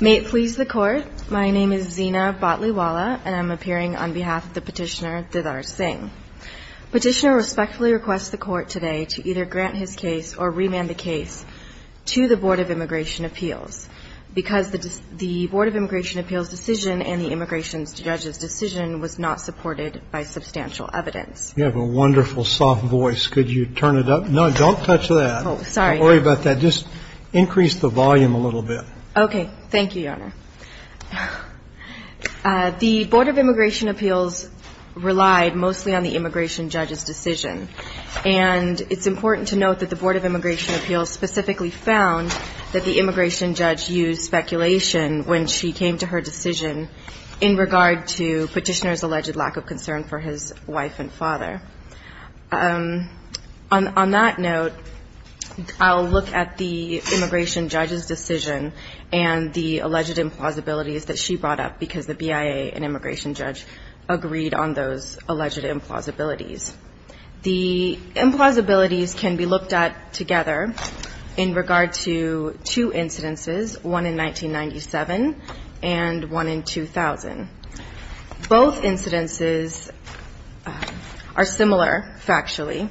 May it please the Court, my name is Zeena Bhatliwala and I'm appearing on behalf of the Petitioner Didar Singh. Petitioner respectfully requests the Court today to either grant his case or remand the case to the Board of Immigration Appeals because the Board of Immigration Appeals decision and the Immigration Judge's decision was not supported by substantial evidence. You have a wonderful soft voice. Could you turn it up? No, don't touch that. Oh, sorry. Don't worry about that. Just increase the volume a little bit. Okay. Thank you, Your Honor. The Board of Immigration Appeals relied mostly on the Immigration Judge's decision. And it's important to note that the Board of Immigration Appeals specifically found that the Immigration Judge used speculation when she came to her decision in regard to Petitioner's alleged lack of concern for his wife and father. On that note, I'll look at the Immigration Judge's decision and the alleged implausibilities that she brought up because the BIA and Immigration Judge agreed on those alleged implausibilities. The implausibilities can be looked at together in regard to two incidences, one in 1997 and one in 2000. Both incidences are similar factually.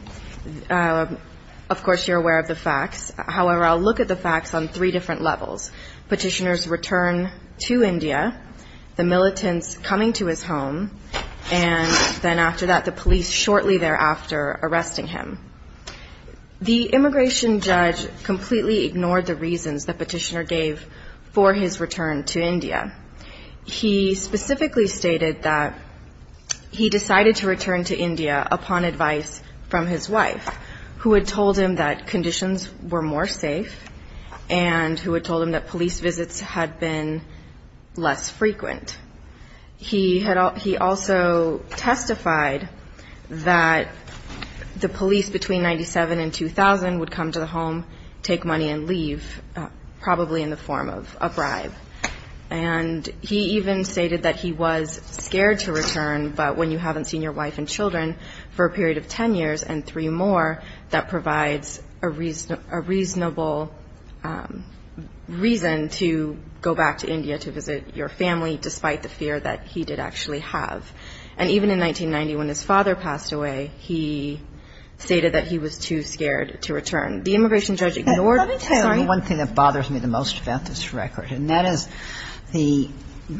Of course, you're aware of the facts. However, I'll look at the facts on three different levels. Petitioner's return to India, the militants coming to his home, and then after that the police shortly thereafter arresting him. The Immigration Judge completely ignored the reasons that Petitioner gave for his return to India. He specifically stated that he decided to return to India upon advice from his wife, who had told him that conditions were more safe and who had told him that police visits had been less frequent. He also testified that the police between 1997 and 2000 would come to the home, take money and leave, probably in the form of a bribe. And he even stated that he was scared to return, but when you haven't seen your wife and children for a period of 10 years and three more, that provides a reasonable reason to go back to India to visit your family, despite the fear that he did actually have. And even in 1990, when his father passed away, he stated that he was too scared to return. The Immigration Judge ignored it. I'm sorry. The one thing that bothers me the most about this record, and that is the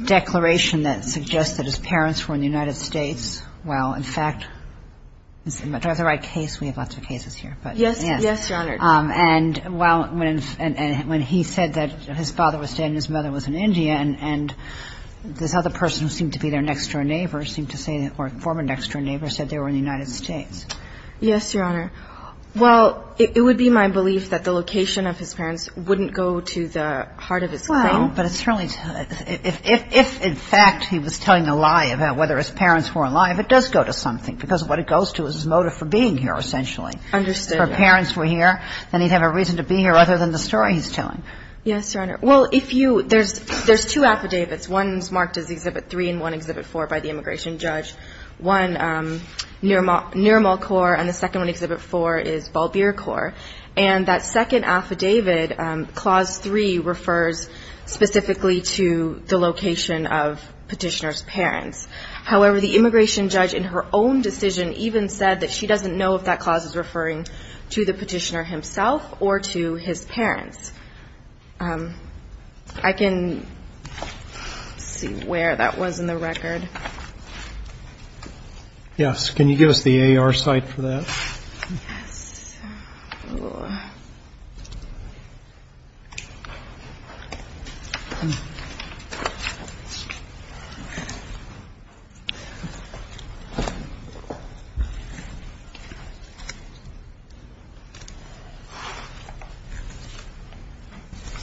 declaration that suggests that his parents were in the United States. Well, in fact, do I have the right case? We have lots of cases here. Yes. Yes, Your Honor. And when he said that his father was dead and his mother was in India, and this other person who seemed to be their next-door neighbor seemed to say or former next-door neighbor said they were in the United States. Yes, Your Honor. Well, it would be my belief that the location of his parents wouldn't go to the heart of his claim. Well, but it's really – if in fact he was telling a lie about whether his parents were alive, it does go to something, because what it goes to is his motive for being here, essentially. Understood. If her parents were here, then he'd have a reason to be here other than the story he's telling. Yes, Your Honor. Well, if you – there's two affidavits. One is marked as Exhibit 3 and one Exhibit 4 by the Immigration Judge. One, Nirmal Kaur, and the second one, Exhibit 4, is Balbir Kaur. And that second affidavit, Clause 3, refers specifically to the location of Petitioner's parents. However, the Immigration Judge in her own decision even said that she doesn't know if that clause is referring to the Petitioner himself or to his parents. I can see where that was in the record. Yes. Can you give us the A.R. site for that? Yes.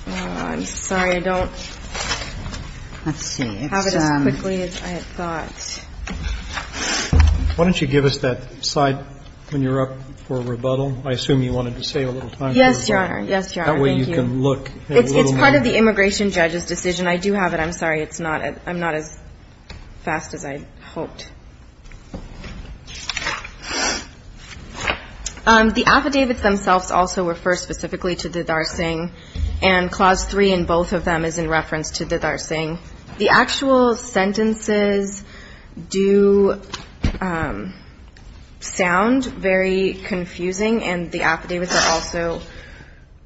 I'm sorry, I don't have it as quickly as I thought. Why don't you give us that slide when you're up for rebuttal? I assume you wanted to save a little time. Yes, Your Honor. Yes, Your Honor. Thank you. That way you can look at a little more. It's part of the Immigration Judge's decision. I do have it. I'm sorry. It's not – I'm not as fast as I'd hoped. The affidavits themselves also refer specifically to the Darsing. And Clause 3 in both of them is in reference to the Darsing. The actual sentences do sound very confusing, and the affidavits are also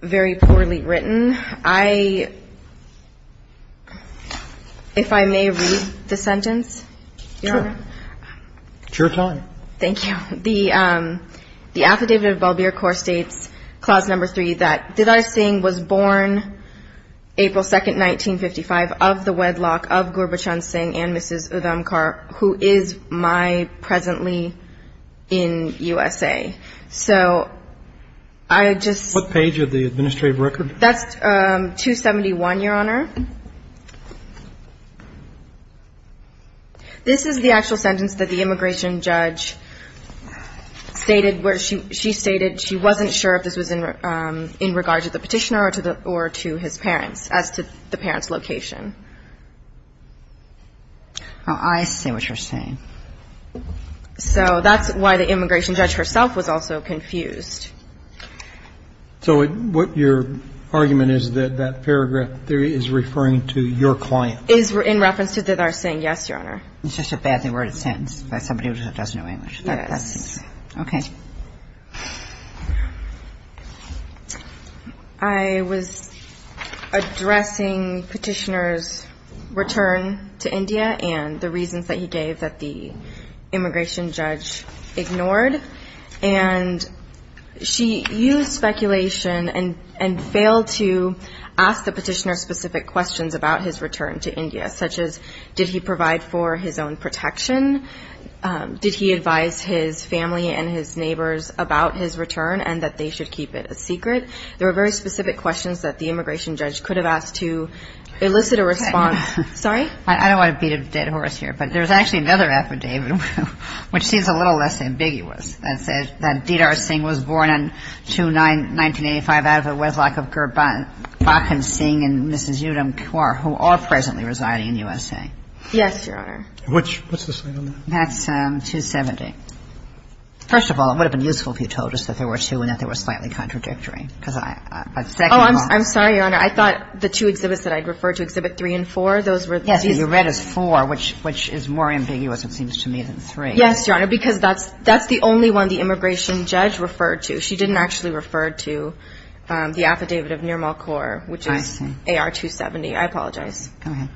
very poorly written. I – if I may read the sentence, Your Honor? Sure. It's your time. Thank you. The Affidavit of Bell-Beer Court states, Clause 3, that Darsing was born April 2, 1955, of the wedlock of Gurbhachand Singh and Mrs. Udhamkar, who is my presently in USA. So I just – What page of the administrative record? That's 271, Your Honor. This is the actual sentence that the Immigration Judge stated where she stated that she wasn't sure if this was in regard to the Petitioner or to his parents as to the parents' location. Oh, I see what you're saying. So that's why the Immigration Judge herself was also confused. So what your argument is that that paragraph there is referring to your client? In reference to the Darsing, yes, Your Honor. It's just a badly worded sentence by somebody who doesn't know English. Yes. Okay. I was addressing Petitioner's return to India and the reasons that he gave that the Immigration Judge ignored. And she used speculation and failed to ask the Petitioner specific questions about his return to India, such as did he provide for his own protection, did he advise his family and his neighbors about his return and that they should keep it a secret. There were very specific questions that the Immigration Judge could have asked to elicit a response. Sorry? I don't want to beat a dead horse here, but there's actually another affidavit which seems a little less ambiguous. It says that Darsing was born in 1985 out of a wedlock of Gurbakhan Singh and Mrs. Yudham Kaur, who are presently residing in USA. Yes, Your Honor. I'm sorry, Your Honor. I thought the two exhibits that I referred to, Exhibit 3 and 4, those were these. Yes, but you read as 4, which is more ambiguous, it seems to me, than 3. Yes, Your Honor, because that's the only one the Immigration Judge referred to. She didn't actually refer to the affidavit of Nirmal Kaur, which is AR-270. I apologize. Go ahead.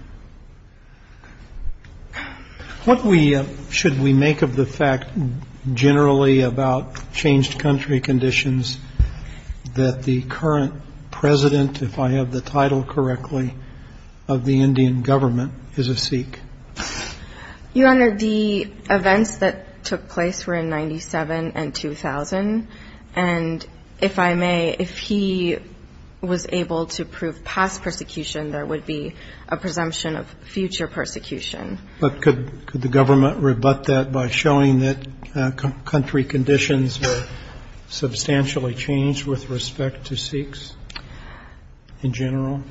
What we should we make of the fact generally about changed country conditions that the current president, if I have the title correctly, of the Indian government is a Sikh? Your Honor, the events that took place were in 97 and 2000. And if I may, if he was able to prove past persecution, there would be a presumption of future persecution. But could the government rebut that by showing that country conditions were substantially changed with respect to Sikhs in general?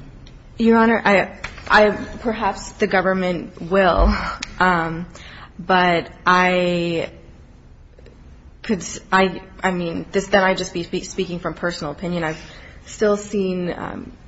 Your Honor, perhaps the government will. But I could, I mean, then I'd just be speaking from personal opinion. I mean, I've still seen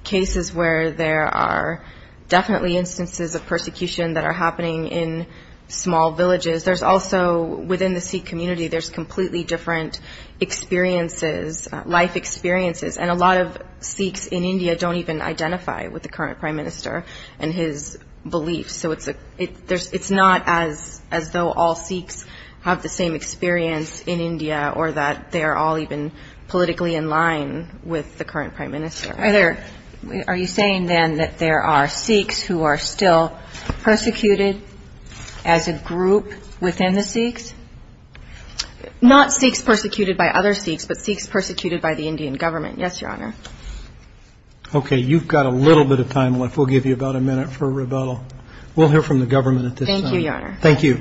cases where there are definitely instances of persecution that are happening in small villages. There's also, within the Sikh community, there's completely different experiences, life experiences. And a lot of Sikhs in India don't even identify with the current prime minister and his beliefs. So it's not as though all Sikhs have the same experience in India or that they are all even politically in line with the current prime minister. Are you saying, then, that there are Sikhs who are still persecuted as a group within the Sikhs? Not Sikhs persecuted by other Sikhs, but Sikhs persecuted by the Indian government. Yes, Your Honor. Okay, you've got a little bit of time left. We'll give you about a minute for rebuttal. We'll hear from the government at this time. Thank you, Your Honor. Thank you.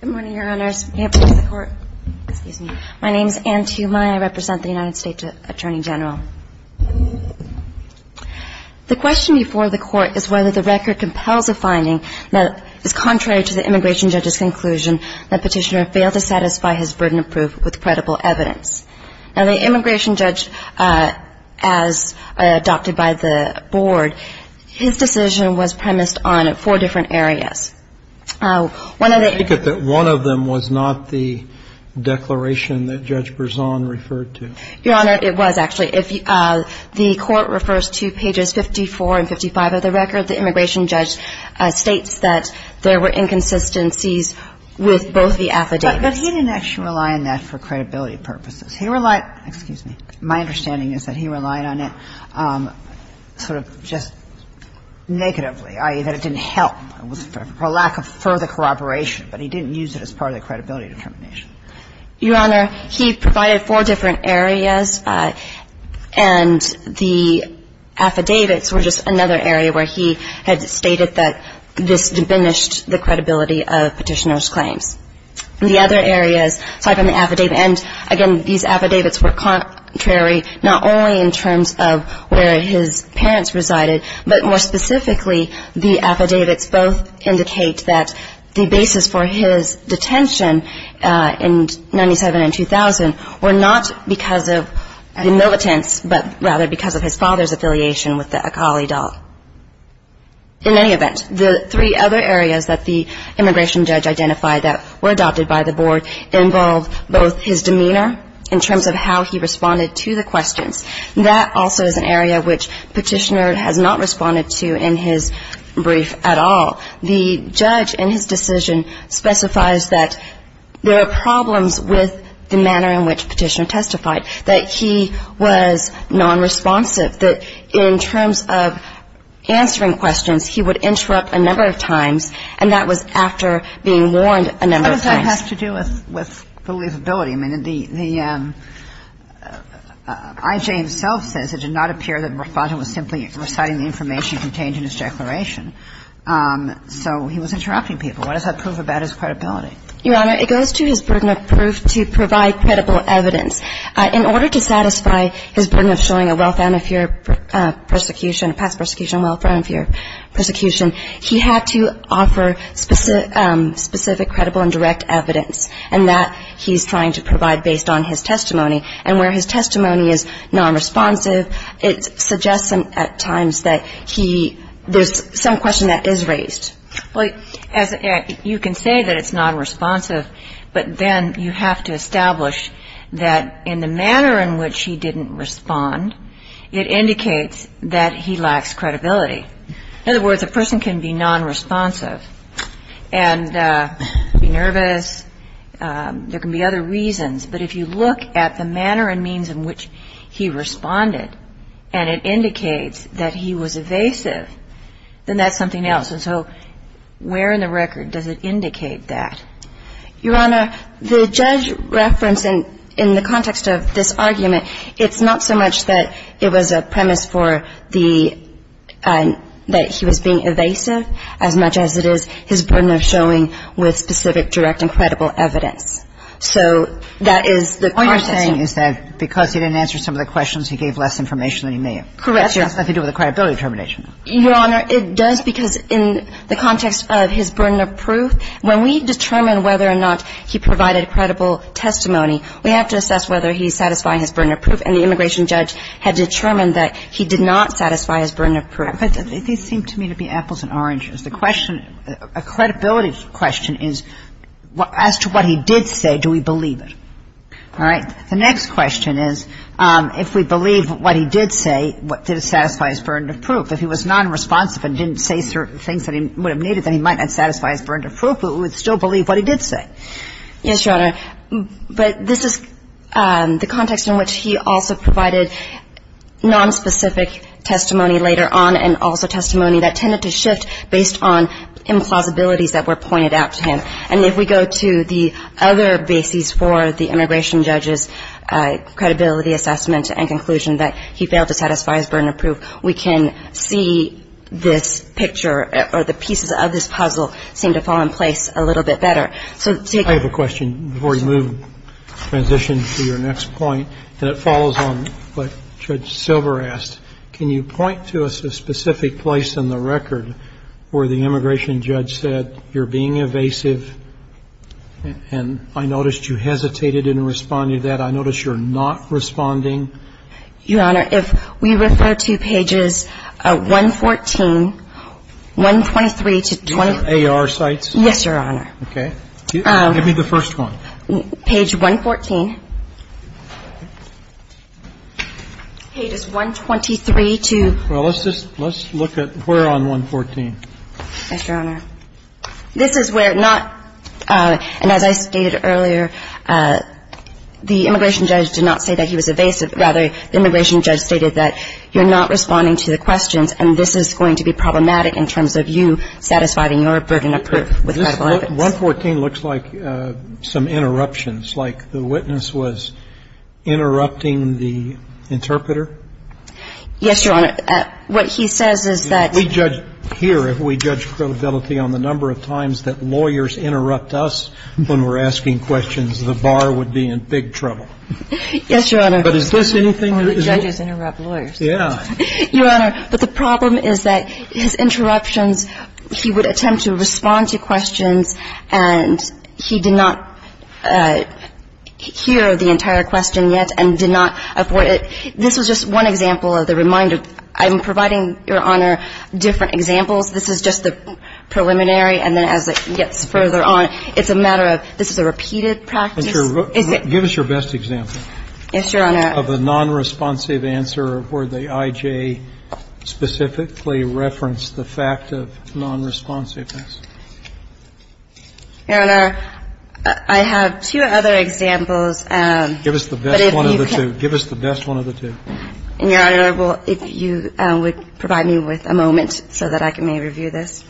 Good morning, Your Honors. May it please the Court. Excuse me. My name is Anne Tumai. I represent the United States Attorney General. The question before the Court is whether the record compels a finding that is contrary to the immigration judge's conclusion that Petitioner failed to satisfy his burden of proof with credible evidence. Now, the immigration judge, as adopted by the Board, his decision was premised on a I take it that one of them was not the declaration that Judge Berzon referred to. Your Honor, it was, actually. The Court refers to pages 54 and 55 of the record. The immigration judge states that there were inconsistencies with both the affidavits. But he didn't actually rely on that for credibility purposes. He relied – excuse me – my understanding is that he relied on it sort of just negatively, i.e., that it didn't help. It was for lack of further corroboration. But he didn't use it as part of the credibility determination. Your Honor, he provided four different areas. And the affidavits were just another area where he had stated that this diminished the credibility of Petitioner's claims. The other areas, aside from the affidavit, and, again, these affidavits were contrary not only in terms of where his parents resided, but, more specifically, the affidavits both indicate that the basis for his detention in 97 and 2000 were not because of the militants, but rather because of his father's affiliation with the Akali doll. In any event, the three other areas that the immigration judge identified that were adopted by the Board involve both his demeanor in terms of how he responded to the questions. That also is an area which Petitioner has not responded to in his brief at all. The judge in his decision specifies that there are problems with the manner in which Petitioner testified, that he was nonresponsive, that in terms of answering questions, he would interrupt a number of times, and that was after being warned a number of times. And what does that have to do with believability? I mean, the I.J. himself says it did not appear that the respondent was simply reciting the information contained in his declaration. So he was interrupting people. What does that prove about his credibility? Your Honor, it goes to his burden of proof to provide credible evidence. In order to satisfy his burden of showing a well-founded fear of persecution, a past persecution, a well-founded fear of persecution, he had to offer specific credible and direct evidence, and that he's trying to provide based on his testimony. And where his testimony is nonresponsive, it suggests at times that there's some question that is raised. Well, you can say that it's nonresponsive, but then you have to establish that in the manner in which he didn't respond, it indicates that he lacks credibility. In other words, a person can be nonresponsive and be nervous. There can be other reasons, but if you look at the manner and means in which he responded and it indicates that he was evasive, then that's something else. And so where in the record does it indicate that? Your Honor, the judge referenced in the context of this argument, it's not so much that it was a premise for the – that he was being evasive as much as it is his burden of showing with specific direct and credible evidence. So that is the process. All you're saying is that because he didn't answer some of the questions, he gave less information than he may have. Correct, Your Honor. That has nothing to do with the credibility determination. Your Honor, it does because in the context of his burden of proof, when we determine whether or not he provided credible testimony, we have to assess whether he's satisfying his burden of proof, and the immigration judge had determined that he did not satisfy his burden of proof. But these seem to me to be apples and oranges. The question – a credibility question is as to what he did say, do we believe it? All right. The next question is if we believe what he did say, did it satisfy his burden of proof? If he was nonresponsive and didn't say certain things that he would have needed, then he might not satisfy his burden of proof, but we would still believe what he did say. Yes, Your Honor. But this is the context in which he also provided nonspecific testimony later on and also testimony that tended to shift based on implausibilities that were pointed out to him. And if we go to the other bases for the immigration judge's credibility assessment and conclusion that he failed to satisfy his burden of proof, we can see this picture or the pieces of this puzzle seem to fall in place a little bit better. I have a question before we move, transition to your next point, and it follows on what Judge Silver asked. Can you point to a specific place in the record where the immigration judge said, you're being evasive, and I noticed you hesitated in responding to that. I noticed you're not responding. Your Honor, if we refer to pages 114, 123 to 23. AR sites? Yes, Your Honor. Okay. Give me the first one. Page 114. Page 123 to 23. Well, let's just look at where on 114? Yes, Your Honor. This is where not, and as I stated earlier, the immigration judge did not say that he was evasive. Rather, the immigration judge stated that you're not responding to the questions and this is going to be problematic in terms of you satisfying your burden of proof with credible evidence. 114 looks like some interruptions, like the witness was interrupting the interpreter. Yes, Your Honor. What he says is that we judge here, if we judge credibility on the number of times that lawyers interrupt us when we're asking questions, the bar would be in big trouble. Yes, Your Honor. But is this anything? Judges interrupt lawyers. Yeah. Your Honor, but the problem is that his interruptions, he would attempt to respond to questions and he did not hear the entire question yet and did not avoid it. This was just one example of the reminder. I'm providing, Your Honor, different examples. This is just the preliminary. And then as it gets further on, it's a matter of this is a repeated practice. Give us your best example. Yes, Your Honor. Of a nonresponsive answer where the I.J. specifically referenced the fact of nonresponsiveness. Your Honor, I have two other examples. Give us the best one of the two. Give us the best one of the two. Your Honor, if you would provide me with a moment so that I may review this.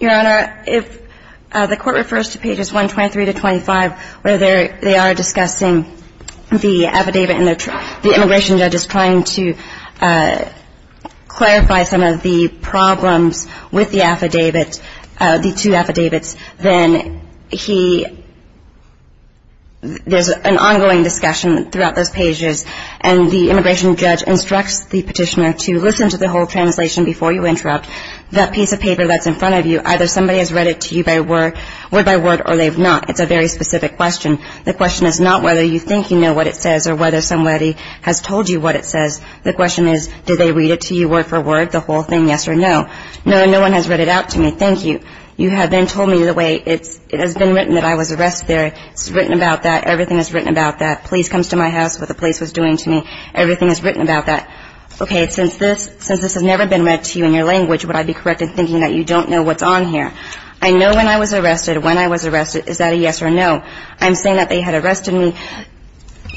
Your Honor, if the Court refers to pages 123 to 25 where they are discussing the affidavit and the immigration judge is trying to clarify some of the problems with the affidavit, the two affidavits, then he – there's an ongoing discussion throughout those pages and the immigration judge instructs the Petitioner to listen to the whole translation before you interrupt. That piece of paper that's in front of you, either somebody has read it to you by word or they've not. It's a very specific question. The question is not whether you think you know what it says or whether somebody has told you what it says. The question is did they read it to you word for word, the whole thing, yes or no. No, no one has read it out to me. Thank you. You have then told me the way it has been written that I was arrested there. It's written about that. Everything is written about that. Police comes to my house, what the police was doing to me. Everything is written about that. Okay, since this has never been read to you in your language, would I be correct in thinking that you don't know what's on here? I know when I was arrested. When I was arrested, is that a yes or a no? I'm saying that they had arrested me.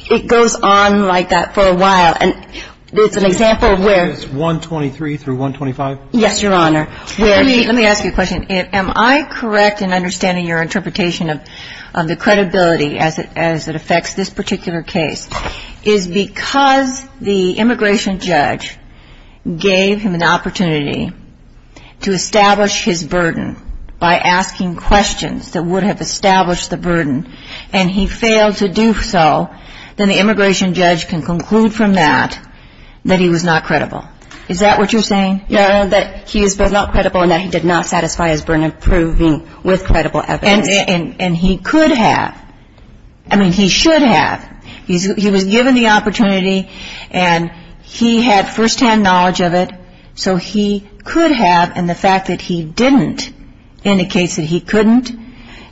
It goes on like that for a while. And it's an example where – Is 123 through 125? Yes, Your Honor. Let me ask you a question. Am I correct in understanding your interpretation of the credibility as it affects this particular case is because the immigration judge gave him an opportunity to establish his burden by asking questions that would have established the burden and he failed to do so, then the immigration judge can conclude from that that he was not credible. Is that what you're saying? Yes, Your Honor, that he is not credible and that he did not satisfy his burden of proving with credible evidence. And he could have. I mean, he should have. He was given the opportunity and he had firsthand knowledge of it, so he could have, and the fact that he didn't indicates that he couldn't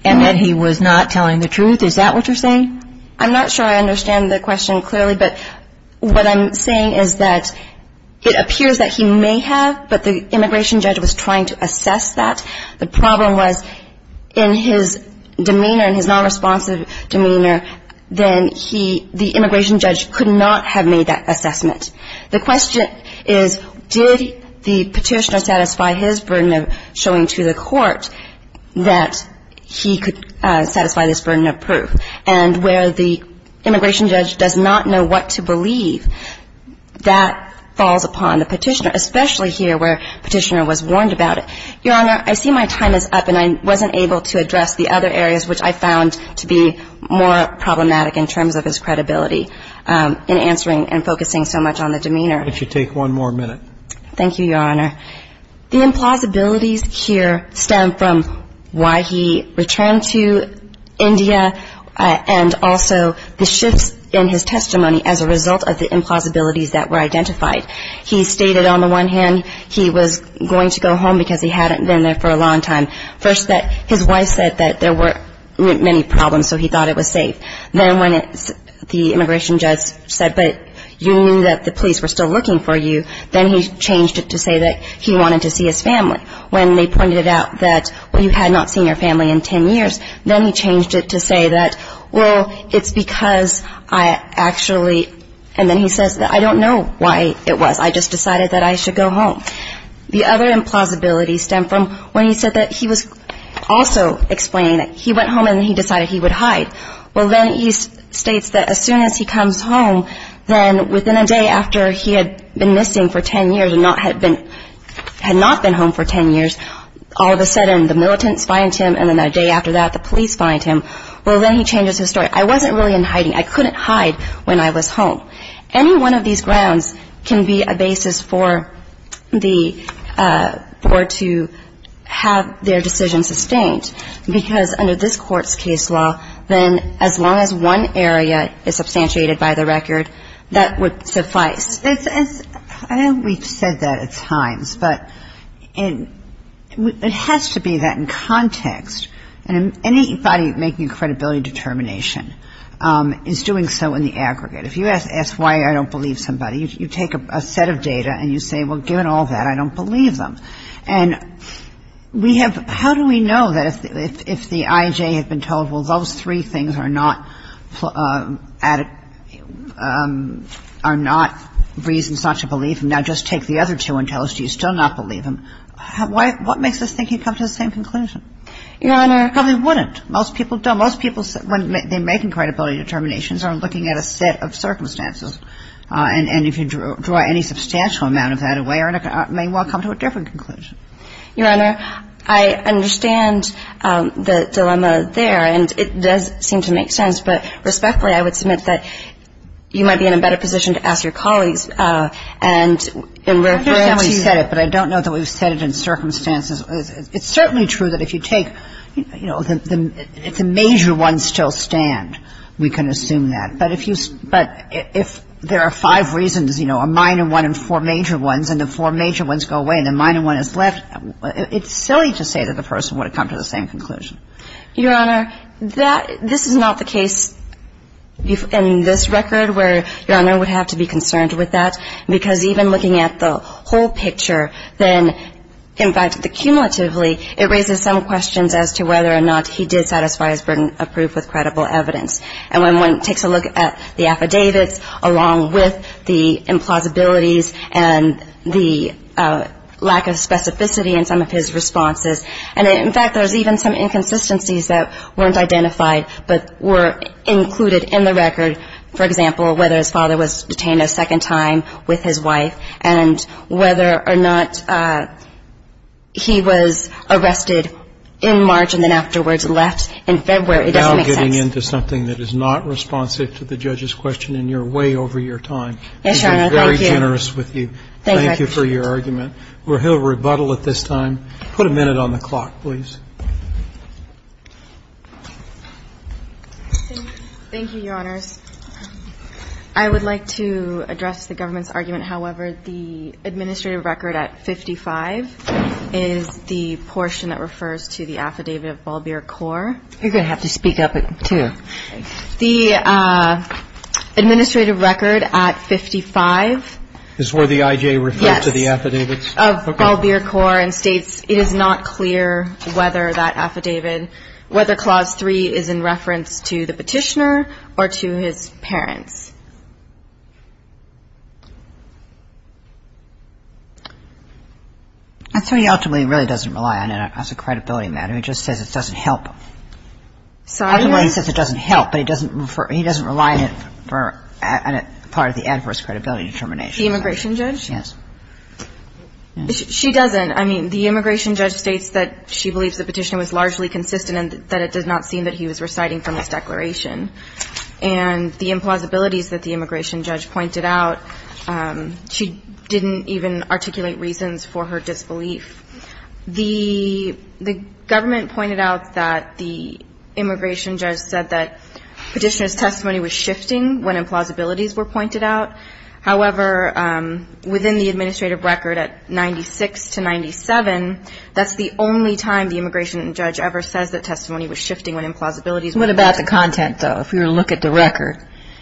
and that he was not telling the truth. Is that what you're saying? I'm not sure I understand the question clearly, but what I'm saying is that it appears that he may have, but the immigration judge was trying to assess that. The problem was in his demeanor, in his nonresponsive demeanor, then he, the immigration judge could not have made that assessment. The question is did the petitioner satisfy his burden of showing to the court that he could satisfy this burden of proof. And where the immigration judge does not know what to believe, that falls upon the petitioner, especially here where the petitioner was warned about it. Your Honor, I see my time is up and I wasn't able to address the other areas which I found to be more problematic in terms of his credibility in answering and focusing so much on the demeanor. I'll let you take one more minute. Thank you, Your Honor. The implausibilities here stem from why he returned to India and also the shifts in his testimony as a result of the implausibilities that were identified. He stated on the one hand he was going to go home because he hadn't been there for a long time. First that his wife said that there were many problems, so he thought it was safe. Then when the immigration judge said, but you knew that the police were still looking for you, then he changed it to say that he wanted to see his family. When they pointed out that, well, you had not seen your family in ten years, then he changed it to say that, well, it's because I actually, and then he says, I don't know why it was. I just decided that I should go home. The other implausibilities stem from when he said that he was also explaining that he went home and he decided he would hide. Well, then he states that as soon as he comes home, then within a day after he had been missing for ten years and had not been home for ten years, all of a sudden the militants find him and then a day after that the police find him. Well, then he changes his story. I wasn't really in hiding. I couldn't hide when I was home. Any one of these grounds can be a basis for the, for to have their decision sustained, because under this Court's case law, then as long as one area is substantiated by the record, that would suffice. It's, it's, I know we've said that at times, but it has to be that in context, and anybody making credibility determination, is doing so in the aggregate. If you ask why I don't believe somebody, you take a set of data and you say, well, given all that, I don't believe them. And we have, how do we know that if the IJ had been told, well, those three things are not, are not reasons not to believe him, now just take the other two and tell us, do you still not believe him, what makes us think he'd come to the same conclusion? Your Honor. Most people don't. Most people, when they're making credibility determinations, are looking at a set of circumstances, and if you draw any substantial amount of that away, you may well come to a different conclusion. Your Honor, I understand the dilemma there, and it does seem to make sense, but respectfully, I would submit that you might be in a better position to ask your colleagues, and in reference to that. I know you said it, but I don't know that we've said it in circumstances. It's certainly true that if you take, you know, if the major ones still stand, we can assume that. But if you, but if there are five reasons, you know, a minor one and four major ones, and the four major ones go away and the minor one is left, it's silly to say that the person would have come to the same conclusion. Your Honor, that, this is not the case in this record where Your Honor would have to be concerned with that, because even looking at the whole picture, then, in fact, the cumulatively, it raises some questions as to whether or not he did satisfy his burden of proof with credible evidence. And when one takes a look at the affidavits along with the implausibilities and the lack of specificity in some of his responses, and in fact, there's even some inconsistencies that weren't identified but were included in the record, for example, whether his father was detained a second time with his wife and whether or not he was arrested in March and then afterwards left in February. It doesn't make sense. Now getting into something that is not responsive to the judge's question, and you're way over your time. Yes, Your Honor. She's been very generous with you. Thank you. Thank you for your argument. We'll hear a rebuttal at this time. Put a minute on the clock, please. Thank you, Your Honors. I would like to address the government's argument, however. The administrative record at 55 is the portion that refers to the affidavit of Balbir Corp. You're going to have to speak up, too. The administrative record at 55. Is where the I.J. referred to the affidavits? Yes, of Balbir Corp. It is not clear whether that affidavit, whether Clause 3 is in reference to the petitioner or to his parents. So he ultimately really doesn't rely on it as a credibility matter. He just says it doesn't help. Sorry? He says it doesn't help, but he doesn't rely on it for part of the adverse credibility determination. The immigration judge? Yes. She doesn't. I mean, the immigration judge states that she believes the petitioner was largely consistent and that it does not seem that he was reciting from this declaration. And the implausibilities that the immigration judge pointed out, she didn't even articulate reasons for her disbelief. The government pointed out that the immigration judge said that petitioner's testimony was shifting when implausibilities were pointed out. However, within the administrative record at 96 to 97, that's the only time the immigration judge ever says that testimony was shifting when implausibilities were pointed out. What about the content, though? If you were to look at the record,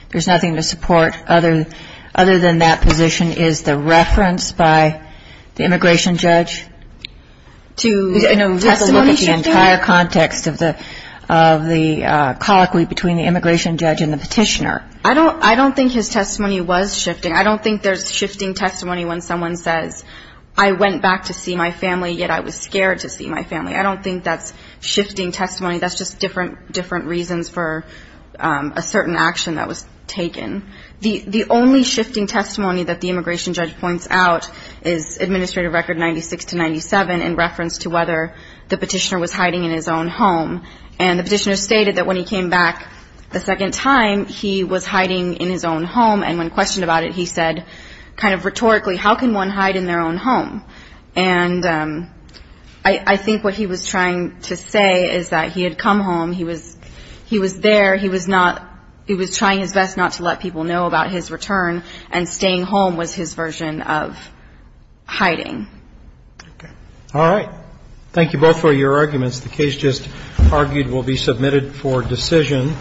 there's nothing to support other than that position. Is the reference by the immigration judge? To testimony shifting? Look at the entire context of the colloquy between the immigration judge and the petitioner. I don't think his testimony was shifting. I don't think there's shifting testimony when someone says, I went back to see my family, yet I was scared to see my family. I don't think that's shifting testimony. That's just different reasons for a certain action that was taken. The only shifting testimony that the immigration judge points out is administrative record 96 to 97 in reference to whether the petitioner was hiding in his own home. And the petitioner stated that when he came back the second time, he was hiding in his own home. And when questioned about it, he said kind of rhetorically, how can one hide in their own home? And I think what he was trying to say is that he had come home. He was there. He was not he was trying his best not to let people know about his return. And staying home was his version of hiding. All right. Thank you both for your arguments. The case just argued will be submitted for decision.